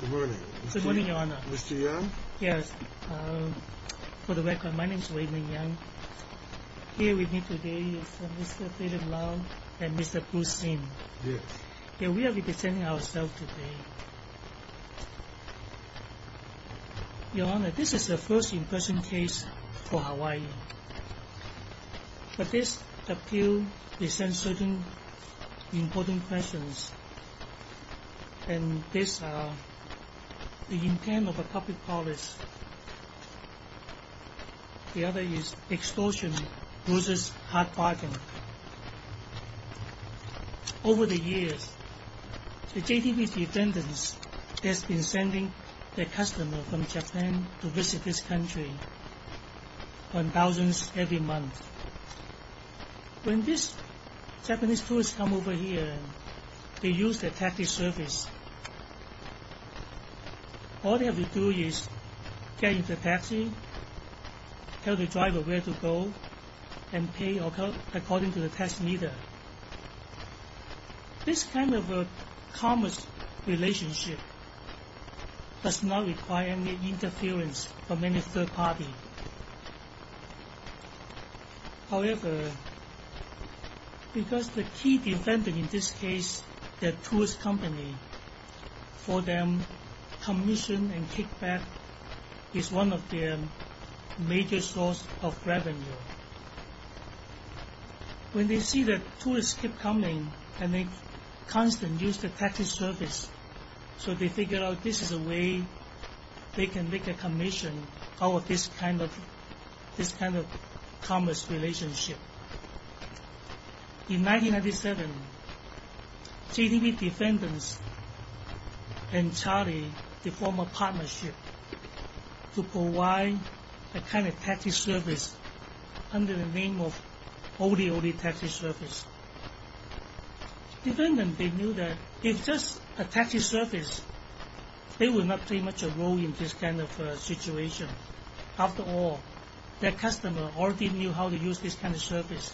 Good morning, Mr. Yang. Yes, for the record, my name is Wei-Ming Yang. Here with me today is Mr. Philip Lau and Mr. Bruce Sin. Yes. We are representing ourselves today. Your Honor, this is the first in-person case for Hawaii. But this appeal presents certain important questions. And these are the intent of a public policy. The other is extortion loses hard bargain. Over the years, the JTB defendants have been sending their customers from Japan to visit this country on thousands every month. When these Japanese tourists come over here, they use the taxi service. All they have to do is get into a taxi, tell the driver where to go, and pay according to the tax meter. This kind of commerce relationship does not require any interference from any third party. However, because the key defendant in this case, the tourist company, for them, commission and kickback is one of their major source of revenue. When they see the tourists keep coming and they constantly use the taxi service, so they figure out this is a way they can make a commission out of this kind of commerce relationship. In 1997, JTB defendants and Charlie, they form a partnership to provide a kind of taxi service under the name of Oldie Oldie Taxi Service. Defendants, they knew that if just a taxi service, they would not play much of a role in this kind of situation. After all, their customer already knew how to use this kind of service.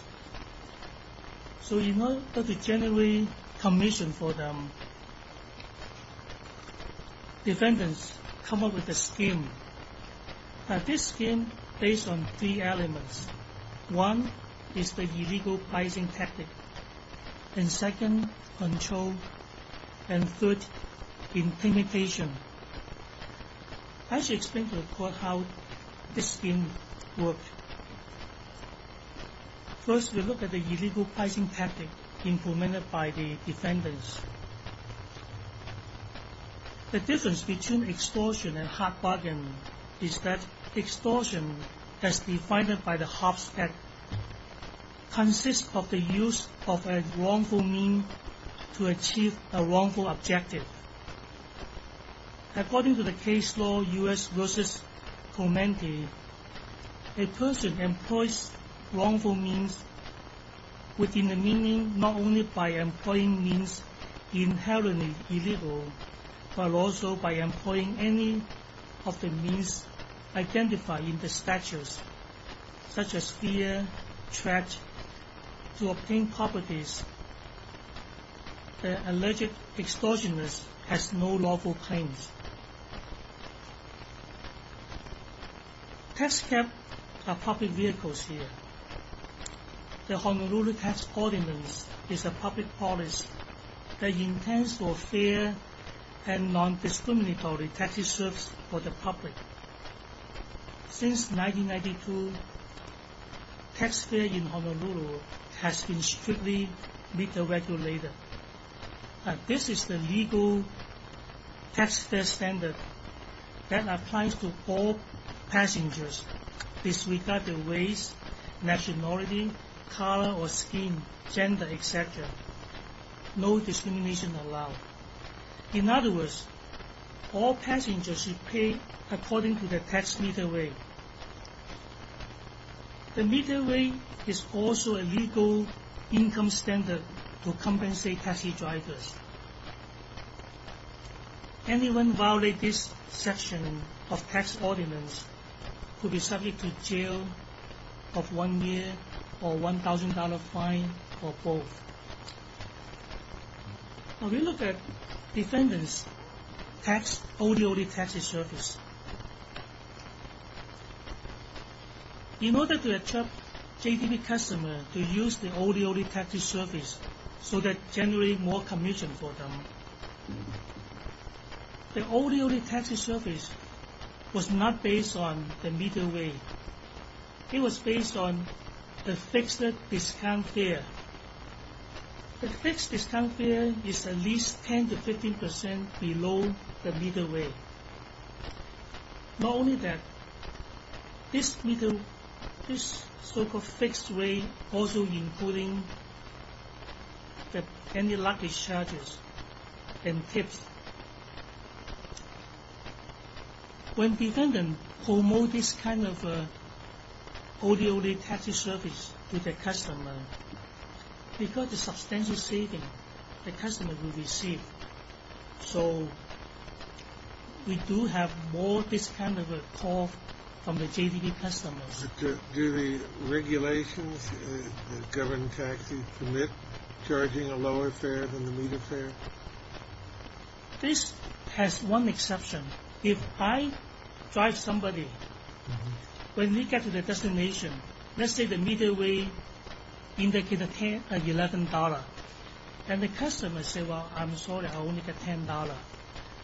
So in order to generate commission for them, defendants come up with a scheme. Now this scheme is based on three elements. One is the illegal pricing tactic. And second, control. And third, intimidation. I shall explain to the court how this scheme works. First, we look at the illegal pricing tactic implemented by the defendants. The difference between extortion and hard bargain is that extortion, as defined by the Hobbs Act, consists of the use of a wrongful means to achieve a wrongful objective. According to the case law, U.S. v. Comende, a person employs wrongful means within the meaning not only by employing means inherently illegal, but also by employing any of the means identified in the statutes, such as fear, threat. To obtain properties, the alleged extortionist has no lawful claims. Tax cabs are public vehicles here. The Honolulu Tax Ordinance is a public policy that intends for fair and non-discriminatory taxi service for the public. Since 1992, tax fare in Honolulu has been strictly regulated. This is the legal tax fare standard that applies to all passengers, disregarding race, nationality, color or skin, gender, etc. No discrimination allowed. In other words, all passengers should pay according to the tax meter rate. The meter rate is also a legal income standard to compensate taxi drivers. Anyone who violates this section of the Tax Ordinance could be subject to jail of one year or a $1,000 fine or both. Now we look at defendants' taxed ODOT taxi service. In order to attract JDP customers to use the ODOT taxi service so that generate more commission for them, the ODOT taxi service was not based on the meter rate. It was based on the fixed discount fare. The fixed discount fare is at least 10-15% below the meter rate. Not only that, this so-called fixed rate also includes any luggage charges and tips. When defendants promote this kind of ODOT taxi service to their customers, because of the substantial savings the customers will receive, so we do have more of this kind of call from the JDP customers. Do the regulations that govern taxis permit charging a lower fare than the meter fare? This has one exception. If I drive somebody, when we get to the destination, let's say the meter rate indicates $11, and the customer says, well, I'm sorry, I only get $10.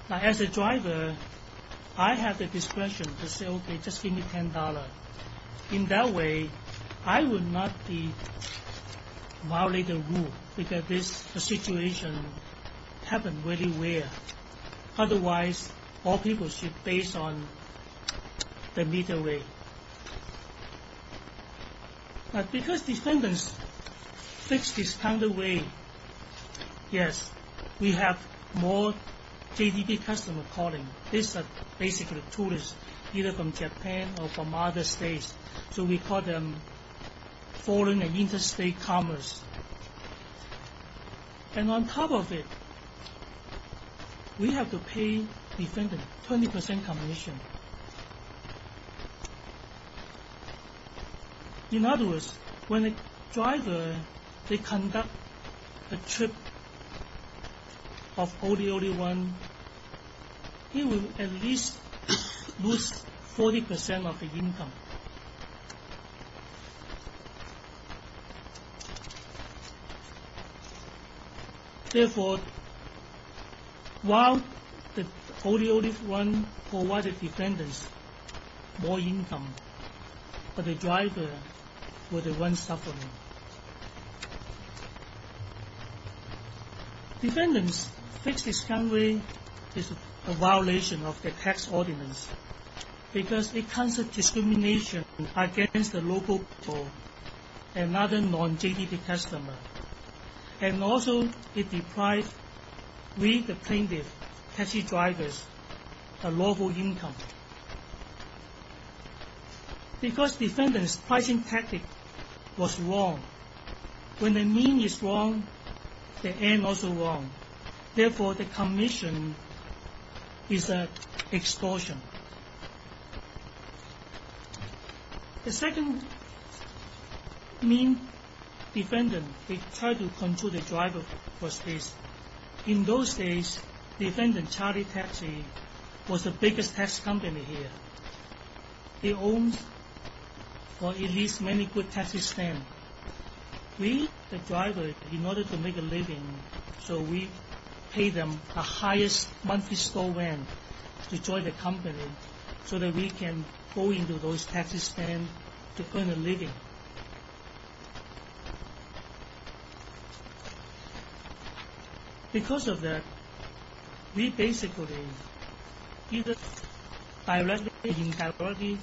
As a driver, I have the discretion to say, OK, just give me $10. In that way, I will not violate the rule, because this situation happens very rare. Otherwise, all people should base on the meter rate. But because defendants fixed discount rate, yes, we have more JDP customers calling. These are basically tourists, either from Japan or from other states. So we call them foreign and interstate commerce. And on top of it, we have to pay defendants 20% commission. In other words, when a driver conducts a trip of ODOD1, he will at least lose 40% of the income. Therefore, while the ODOD1 provides the defendants more income, but the driver will be the one suffering. Defendants fixed discount rate is a violation of the tax ordinance because it causes discrimination against the local people and other non-JDP customers. And also, it deprives we, the plaintiffs, taxi drivers, a lawful income. Because defendants' pricing tactic was wrong, when the mean is wrong, the end also wrong. Therefore, the commission is an extortion. The second mean defendant tried to control the driver was this. In those days, Defendant Charlie Taxi was the biggest tax company here. It owns at least many good taxi stands. We, the driver, in order to make a living, so we pay them the highest monthly store rent to join the company so that we can go into those taxi stands to earn a living. Because of that, we basically either directly or indirectly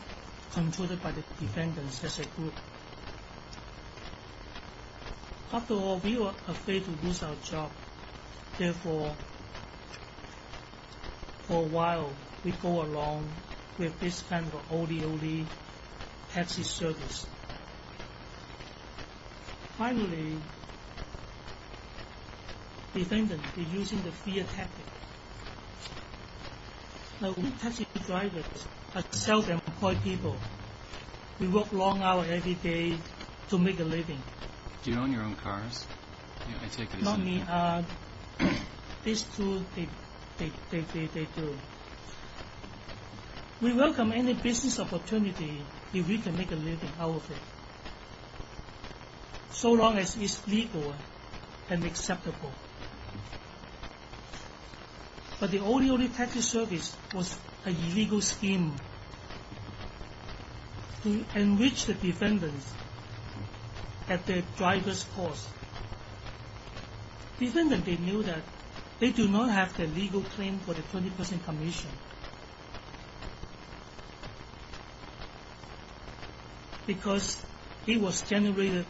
controlled by the defendants as a group. After all, we were afraid to lose our job. Therefore, for a while, we go along with this kind of ODOD taxi service. Finally, defendants were using the fear tactic. Like taxi drivers, I tell them, we work long hours every day to make a living. These two, they do. We welcome any business opportunity if we can make a living out of it. So long as it's legal and acceptable. But the ODOD taxi service was an illegal scheme to enrich the defendants at the driver's cost. Defendants, they knew that they do not have the legal claim for the 20% commission. Because it was generated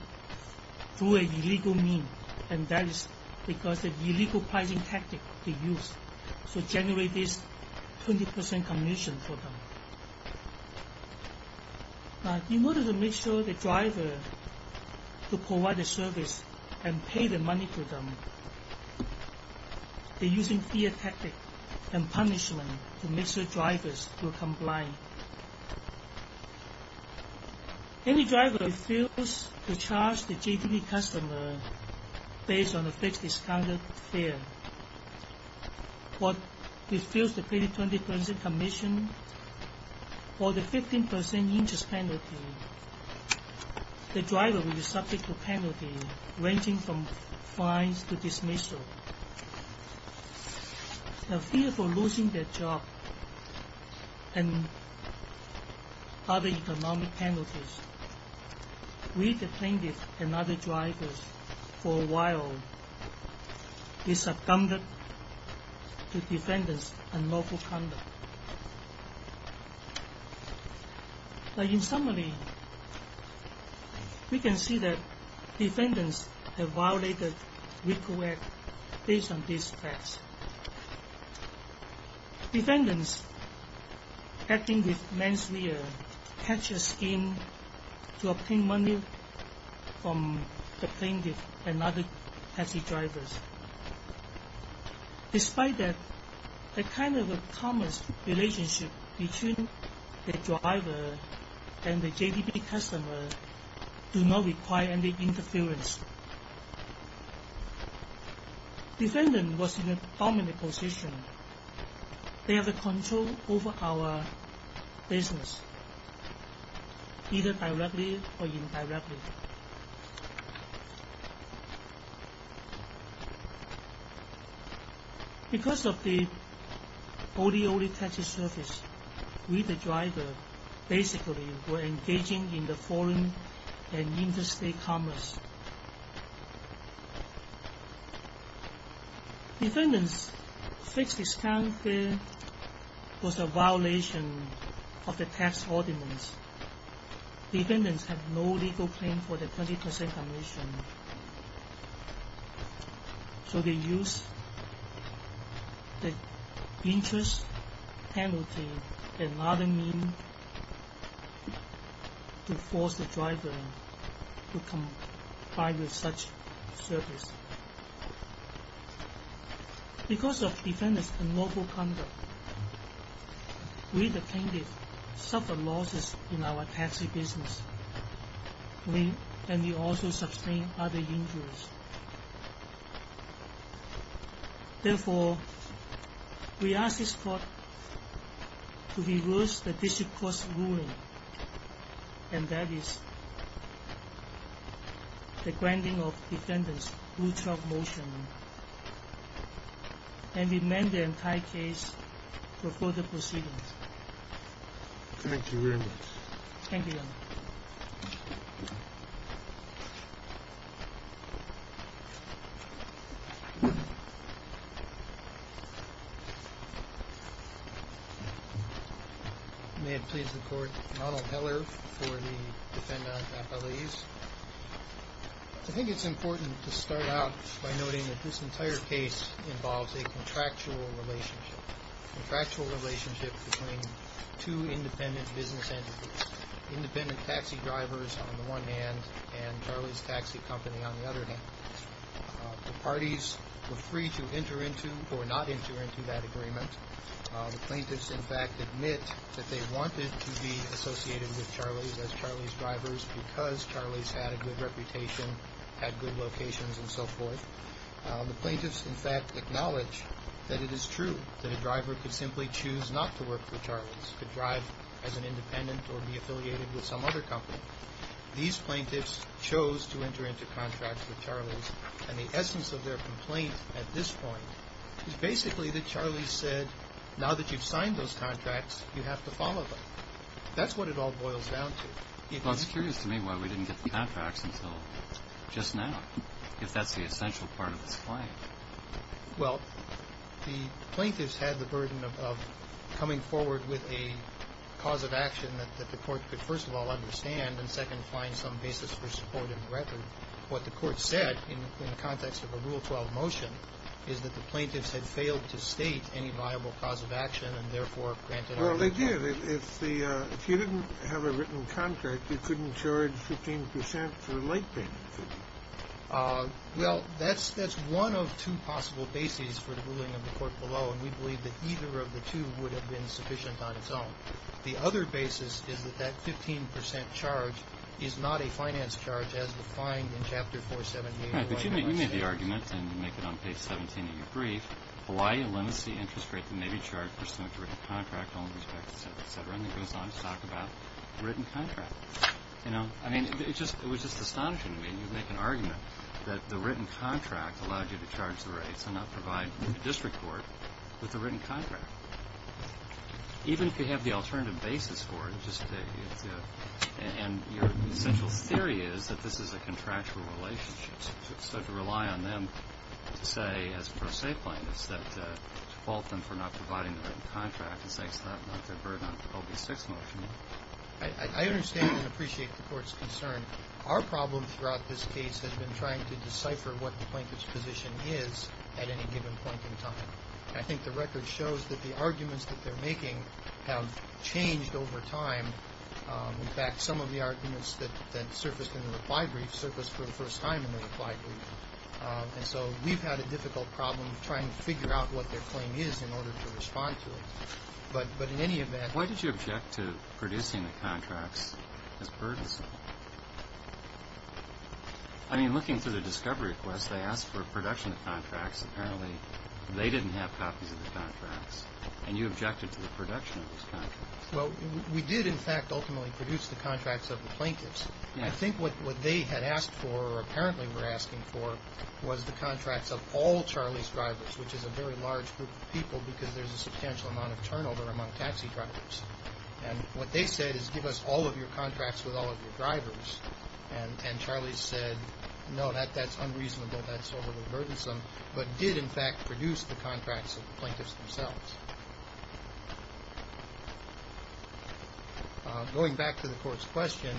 through an illegal mean, and that is because of the illegal pricing tactic they used to generate this 20% commission for them. In order to make sure the driver could provide the service and pay the money to them, they're using fear tactic and punishment to make sure drivers will comply. Any driver who refuses to charge the JTV customer based on a fixed discounted fare, or refuses to pay the 20% commission or the 15% interest penalty, the driver will be subject to penalty ranging from fines to dismissal. The fear for losing their job and other economic penalties, we, the plaintiffs and other drivers, for a while, we succumbed to defendants' unlawful conduct. In summary, we can see that defendants have violated the RICO Act based on these facts. Defendants acting with man's will, catch a scheme to obtain money from the plaintiff and other taxi drivers. Despite that, a kind of commerce relationship between the driver and the JTV customer do not require any interference. Defendant was in a dominant position. They have control over our business, either directly or indirectly. Because of the ODOD taxi service, we, the driver, basically were engaging in foreign and interstate commerce. Defendant's fixed discounted fare was a violation of the tax ordinance. Defendants have no legal claim for the 20% commission. So they used the interest penalty and other means to force the driver to comply with such service. Because of defendants' unlawful conduct, we, the plaintiffs, suffered losses in our taxi business. We also sustained other injuries. Therefore, we ask this court to reverse the district court's ruling, and that is the granting of defendants' blue-chalk motion, and demand the entire case for further proceedings. Thank you very much. Thank you, Your Honor. May it please the court. Ronald Heller for the Defendant Appellees. I think it's important to start out by noting that this entire case involves a contractual relationship. A contractual relationship between two independent business entities. Independent taxi drivers on the one hand, and Charlie's Taxi Company on the other hand. The parties were free to enter into or not enter into that agreement. The plaintiffs, in fact, admit that they wanted to be associated with Charlie's as Charlie's drivers because Charlie's had a good reputation, had good locations, and so forth. The plaintiffs, in fact, acknowledge that it is true that a driver could simply choose not to work for Charlie's, could drive as an independent or be affiliated with some other company. These plaintiffs chose to enter into contracts with Charlie's, and the essence of their complaint at this point is basically that Charlie's said, now that you've signed those contracts, you have to follow them. That's what it all boils down to. Well, it's curious to me why we didn't get the contracts until just now, if that's the essential part of this claim. Well, the plaintiffs had the burden of coming forward with a cause of action that the court could, first of all, understand, and second, find some basis for support in the record. What the court said in the context of a Rule 12 motion is that the plaintiffs had failed to state any viable cause of action and, therefore, granted our request. Well, they did. If you didn't have a written contract, you couldn't charge 15 percent for a light penalty. Well, that's one of two possible bases for the ruling of the court below, and we believe that either of the two would have been sufficient on its own. The other basis is that that 15 percent charge is not a finance charge as defined in Chapter 478 of the White House. Right, but you made the argument, and you make it on page 17 of your brief, Hawaii limits the interest rate that may be charged pursuant to written contract, all in respect to sex, et cetera, and it goes on to talk about written contracts. I mean, it was just astonishing to me, and you make an argument that the written contract allowed you to charge the rates and not provide the district court with the written contract. Even if you have the alternative basis for it, and your essential theory is that this is a contractual relationship, so to rely on them to say, as pro se plaintiffs, that to fault them for not providing the written contract is not their burden on the OB-6 motion. I understand and appreciate the court's concern. Our problem throughout this case has been trying to decipher what the plaintiff's position is at any given point in time. I think the record shows that the arguments that they're making have changed over time. In fact, some of the arguments that surfaced in the reply brief surfaced for the first time in the reply brief. And so we've had a difficult problem trying to figure out what their claim is in order to respond to it. But in any event- Why did you object to producing the contracts as burdensome? I mean, looking through the discovery request, they asked for a production of contracts. Apparently, they didn't have copies of the contracts, and you objected to the production of those contracts. Well, we did, in fact, ultimately produce the contracts of the plaintiffs. I think what they had asked for, or apparently were asking for, was the contracts of all Charlie's drivers, which is a very large group of people because there's a substantial amount of turnover among taxi drivers. And what they said is, give us all of your contracts with all of your drivers. And Charlie said, no, that's unreasonable. That's overly burdensome. But did, in fact, produce the contracts of the plaintiffs themselves. Going back to the court's question,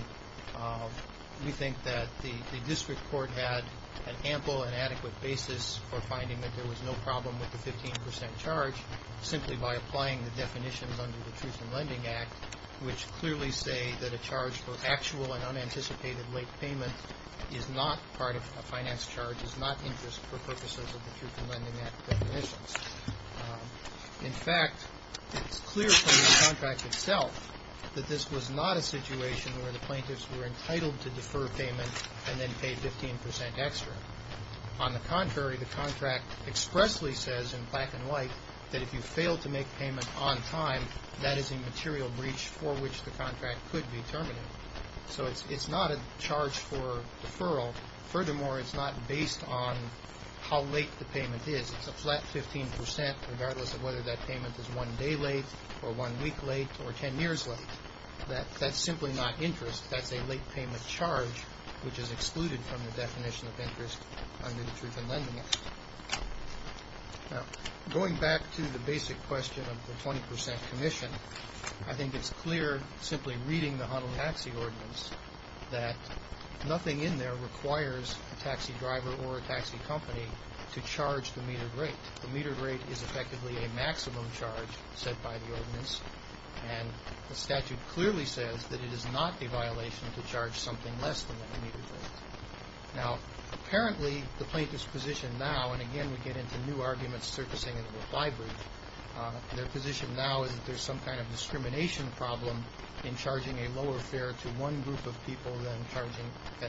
we think that the district court had an ample and adequate basis for finding that there was no problem with the 15 percent charge simply by applying the definitions under the Truth in Lending Act, which clearly say that a charge for actual and unanticipated late payment is not part of a finance charge, is not interest for purposes of the Truth in Lending Act definitions. In fact, it's clear from the contract itself that this was not a situation where the plaintiffs were entitled to defer payment and then pay 15 percent extra. On the contrary, the contract expressly says in black and white that if you fail to make payment on time, that is a material breach for which the contract could be terminated. So it's not a charge for deferral. Furthermore, it's not based on how late the payment is. It's a flat 15 percent regardless of whether that payment is one day late or one week late or 10 years late. That's simply not interest. That's a late payment charge which is excluded from the definition of interest under the Truth in Lending Act. Now, going back to the basic question of the 20 percent commission, I think it's clear simply reading the Huntle Taxi Ordinance that nothing in there requires a taxi driver or a taxi company to charge the metered rate. The metered rate is effectively a maximum charge set by the ordinance, and the statute clearly says that it is not a violation to charge something less than the metered rate. Now, apparently the plaintiffs' position now, and again we get into new arguments surfacing in the library, their position now is that there's some kind of discrimination problem in charging a lower fare to one group of people than the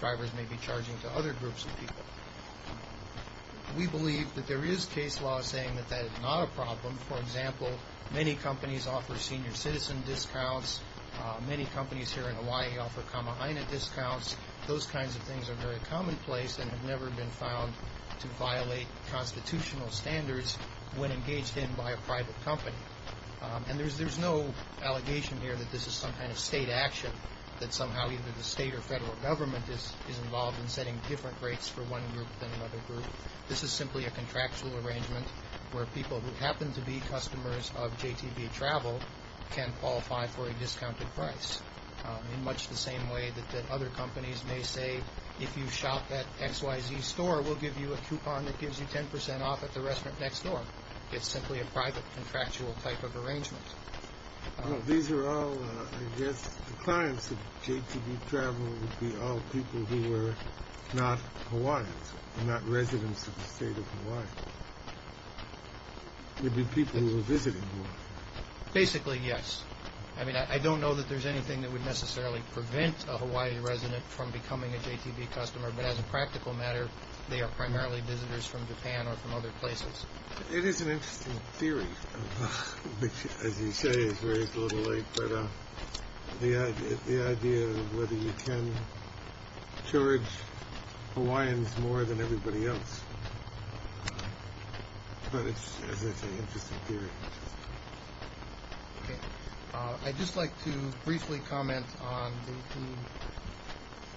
drivers may be charging to other groups of people. We believe that there is case law saying that that is not a problem. For example, many companies offer senior citizen discounts. Many companies here in Hawaii offer kama haina discounts. Those kinds of things are very commonplace and have never been found to violate constitutional standards when engaged in by a private company. And there's no allegation here that this is some kind of state action, that somehow either the state or federal government is involved in setting different rates for one group than another group. This is simply a contractual arrangement where people who happen to be customers of JTB Travel can qualify for a discounted price in much the same way that other companies may say if you shop at XYZ Store, we'll give you a coupon that gives you 10% off at the restaurant next door. It's simply a private contractual type of arrangement. These are all, I guess, the clients of JTB Travel would be all people who were not Hawaiians, not residents of the state of Hawaii. It would be people who were visiting Hawaii. Basically, yes. I mean, I don't know that there's anything that would necessarily prevent a Hawaii resident from becoming a JTB customer, but as a practical matter, they are primarily visitors from Japan or from other places. It is an interesting theory, which, as you say, is raised a little late, but the idea of whether you can charge Hawaiians more than everybody else, but it's an interesting theory. I'd just like to briefly comment on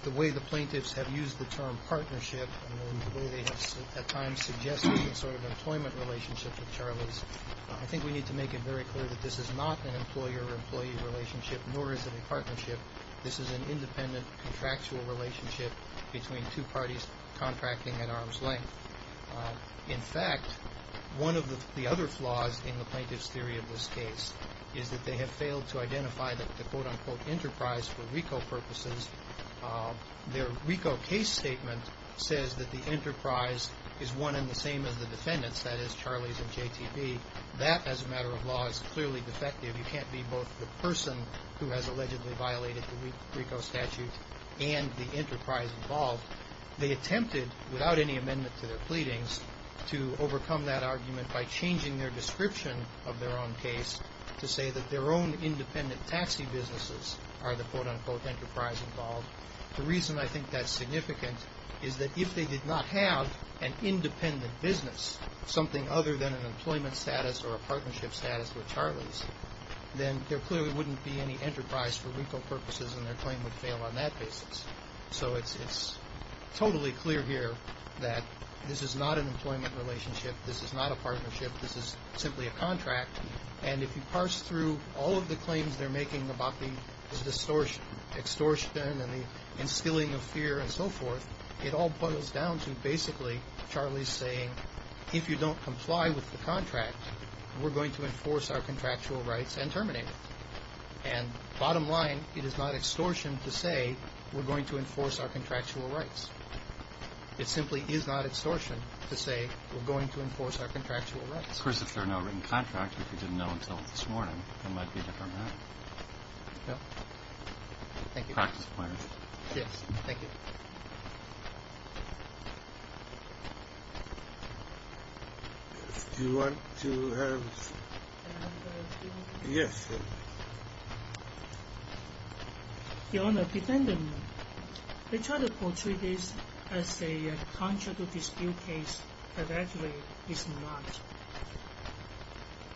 the way the plaintiffs have used the term partnership and the way they have at times suggested some sort of employment relationship with Charlie's. I think we need to make it very clear that this is not an employer-employee relationship, nor is it a partnership. This is an independent contractual relationship between two parties contracting at arm's length. In fact, one of the other flaws in the plaintiff's theory of this case is that they have failed to identify the quote-unquote enterprise for RICO purposes. Their RICO case statement says that the enterprise is one and the same as the defendants, that is, Charlie's and JTB. That, as a matter of law, is clearly defective. You can't be both the person who has allegedly violated the RICO statute and the enterprise involved. They attempted, without any amendment to their pleadings, to overcome that argument by changing their description of their own case to say that their own independent taxi businesses are the quote-unquote enterprise involved. The reason I think that's significant is that if they did not have an independent business, something other than an employment status or a partnership status with Charlie's, then there clearly wouldn't be any enterprise for RICO purposes, and their claim would fail on that basis. So it's totally clear here that this is not an employment relationship. This is not a partnership. This is simply a contract. And if you parse through all of the claims they're making about the extortion and the instilling of fear and so forth, it all boils down to basically Charlie's saying, if you don't comply with the contract, we're going to enforce our contractual rights and terminate it. And bottom line, it is not extortion to say we're going to enforce our contractual rights. It simply is not extortion to say we're going to enforce our contractual rights. Of course, if there's no written contract, if you didn't know until this morning, it might be a different matter. Thank you. Practice plan. Yes, thank you. Do you want to have? Yes. Your Honor, defendant, they try to portray this as a contractual dispute case, but actually it's not.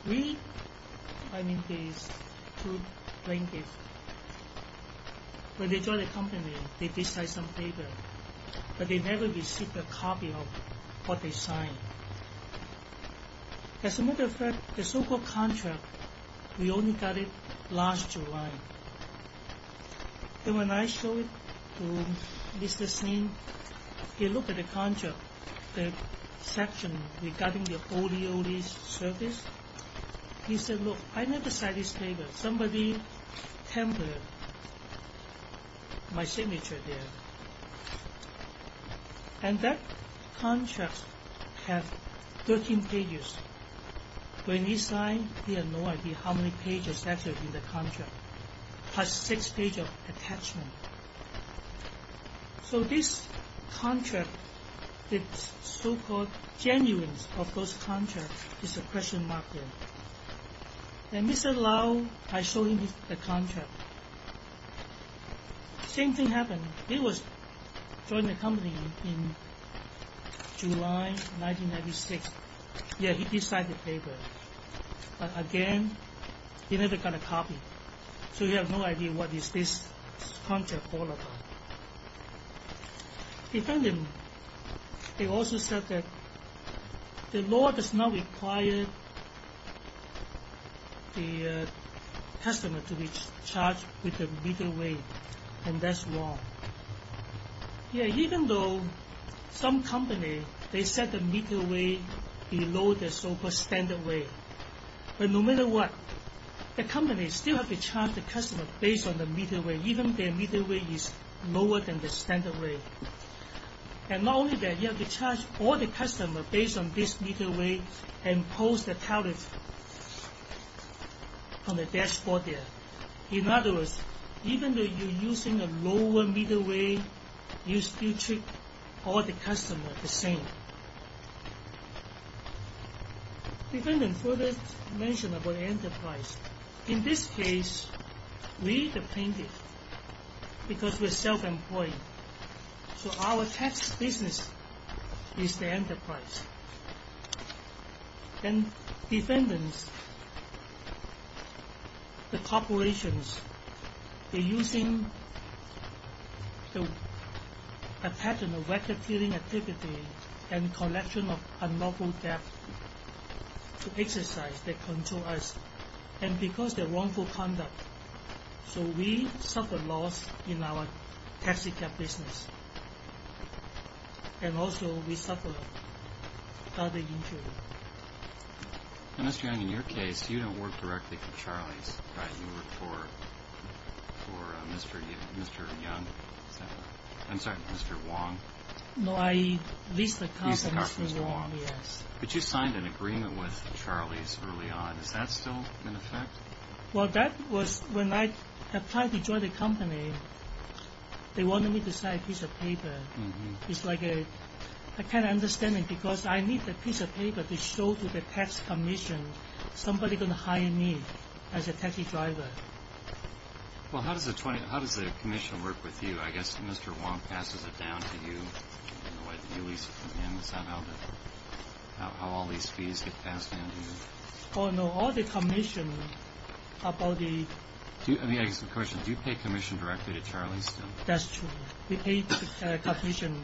We, I mean these two plaintiffs, when they joined the company, they did sign some papers, but they never received a copy of what they signed. As a matter of fact, the so-called contract, we only got it last July. And when I showed it to Mr. Singh, he looked at the contract, the section regarding the ODOD service. He said, look, I never signed this paper. Somebody tampered my signature there. And that contract has 13 pages. When he signed, he had no idea how many pages actually in the contract. Plus six pages of attachment. So this contract, the so-called genuineness of those contracts is a question mark there. And Mr. Lau, I showed him the contract. Same thing happened. He joined the company in July 1996. Yes, he did sign the paper. But again, he never got a copy. So you have no idea what is this contract all about. In fact, they also said that the law does not require the customer to be charged with the middle way. And that's wrong. Yes, even though some companies, they set the middle way below the so-called standard way. But no matter what, the company still has to charge the customer based on the middle way. Even their middle way is lower than the standard way. And not only that, you have to charge all the customers based on this middle way and post the talent on the dashboard there. In other words, even though you're using a lower middle way, you still treat all the customers the same. The defendant further mentioned about enterprise. In this case, we are the plaintiff because we are self-employed. So our tax business is the enterprise. And defendants, the corporations, they're using a pattern of racket-feeling activity and collection of unlawful theft to exercise their control on us. And because of their wrongful conduct, so we suffer loss in our taxicab business. And also we suffer other injuries. Mr. Yang, in your case, you don't work directly for Charlie's, right? You work for Mr. Wang? No, I lease the company to Mr. Wang, yes. But you signed an agreement with Charlie's early on. Is that still in effect? Well, that was when I applied to join the company. They wanted me to sign a piece of paper. I can't understand it because I need a piece of paper to show to the tax commission somebody going to hire me as a taxi driver. Well, how does the commission work with you? I guess Mr. Wang passes it down to you in the way that you lease from him. Is that how all these fees get passed down to you? Oh, no. All the commission about the... I guess the question is, do you pay commission directly to Charlie's still? That's true. We pay commission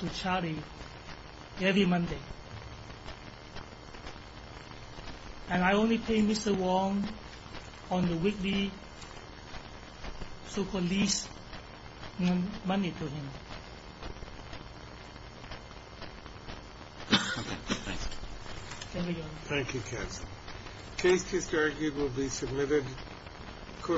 to Charlie's every Monday. And I only pay Mr. Wang on the weekly so-called lease money to him. Thank you, counsel.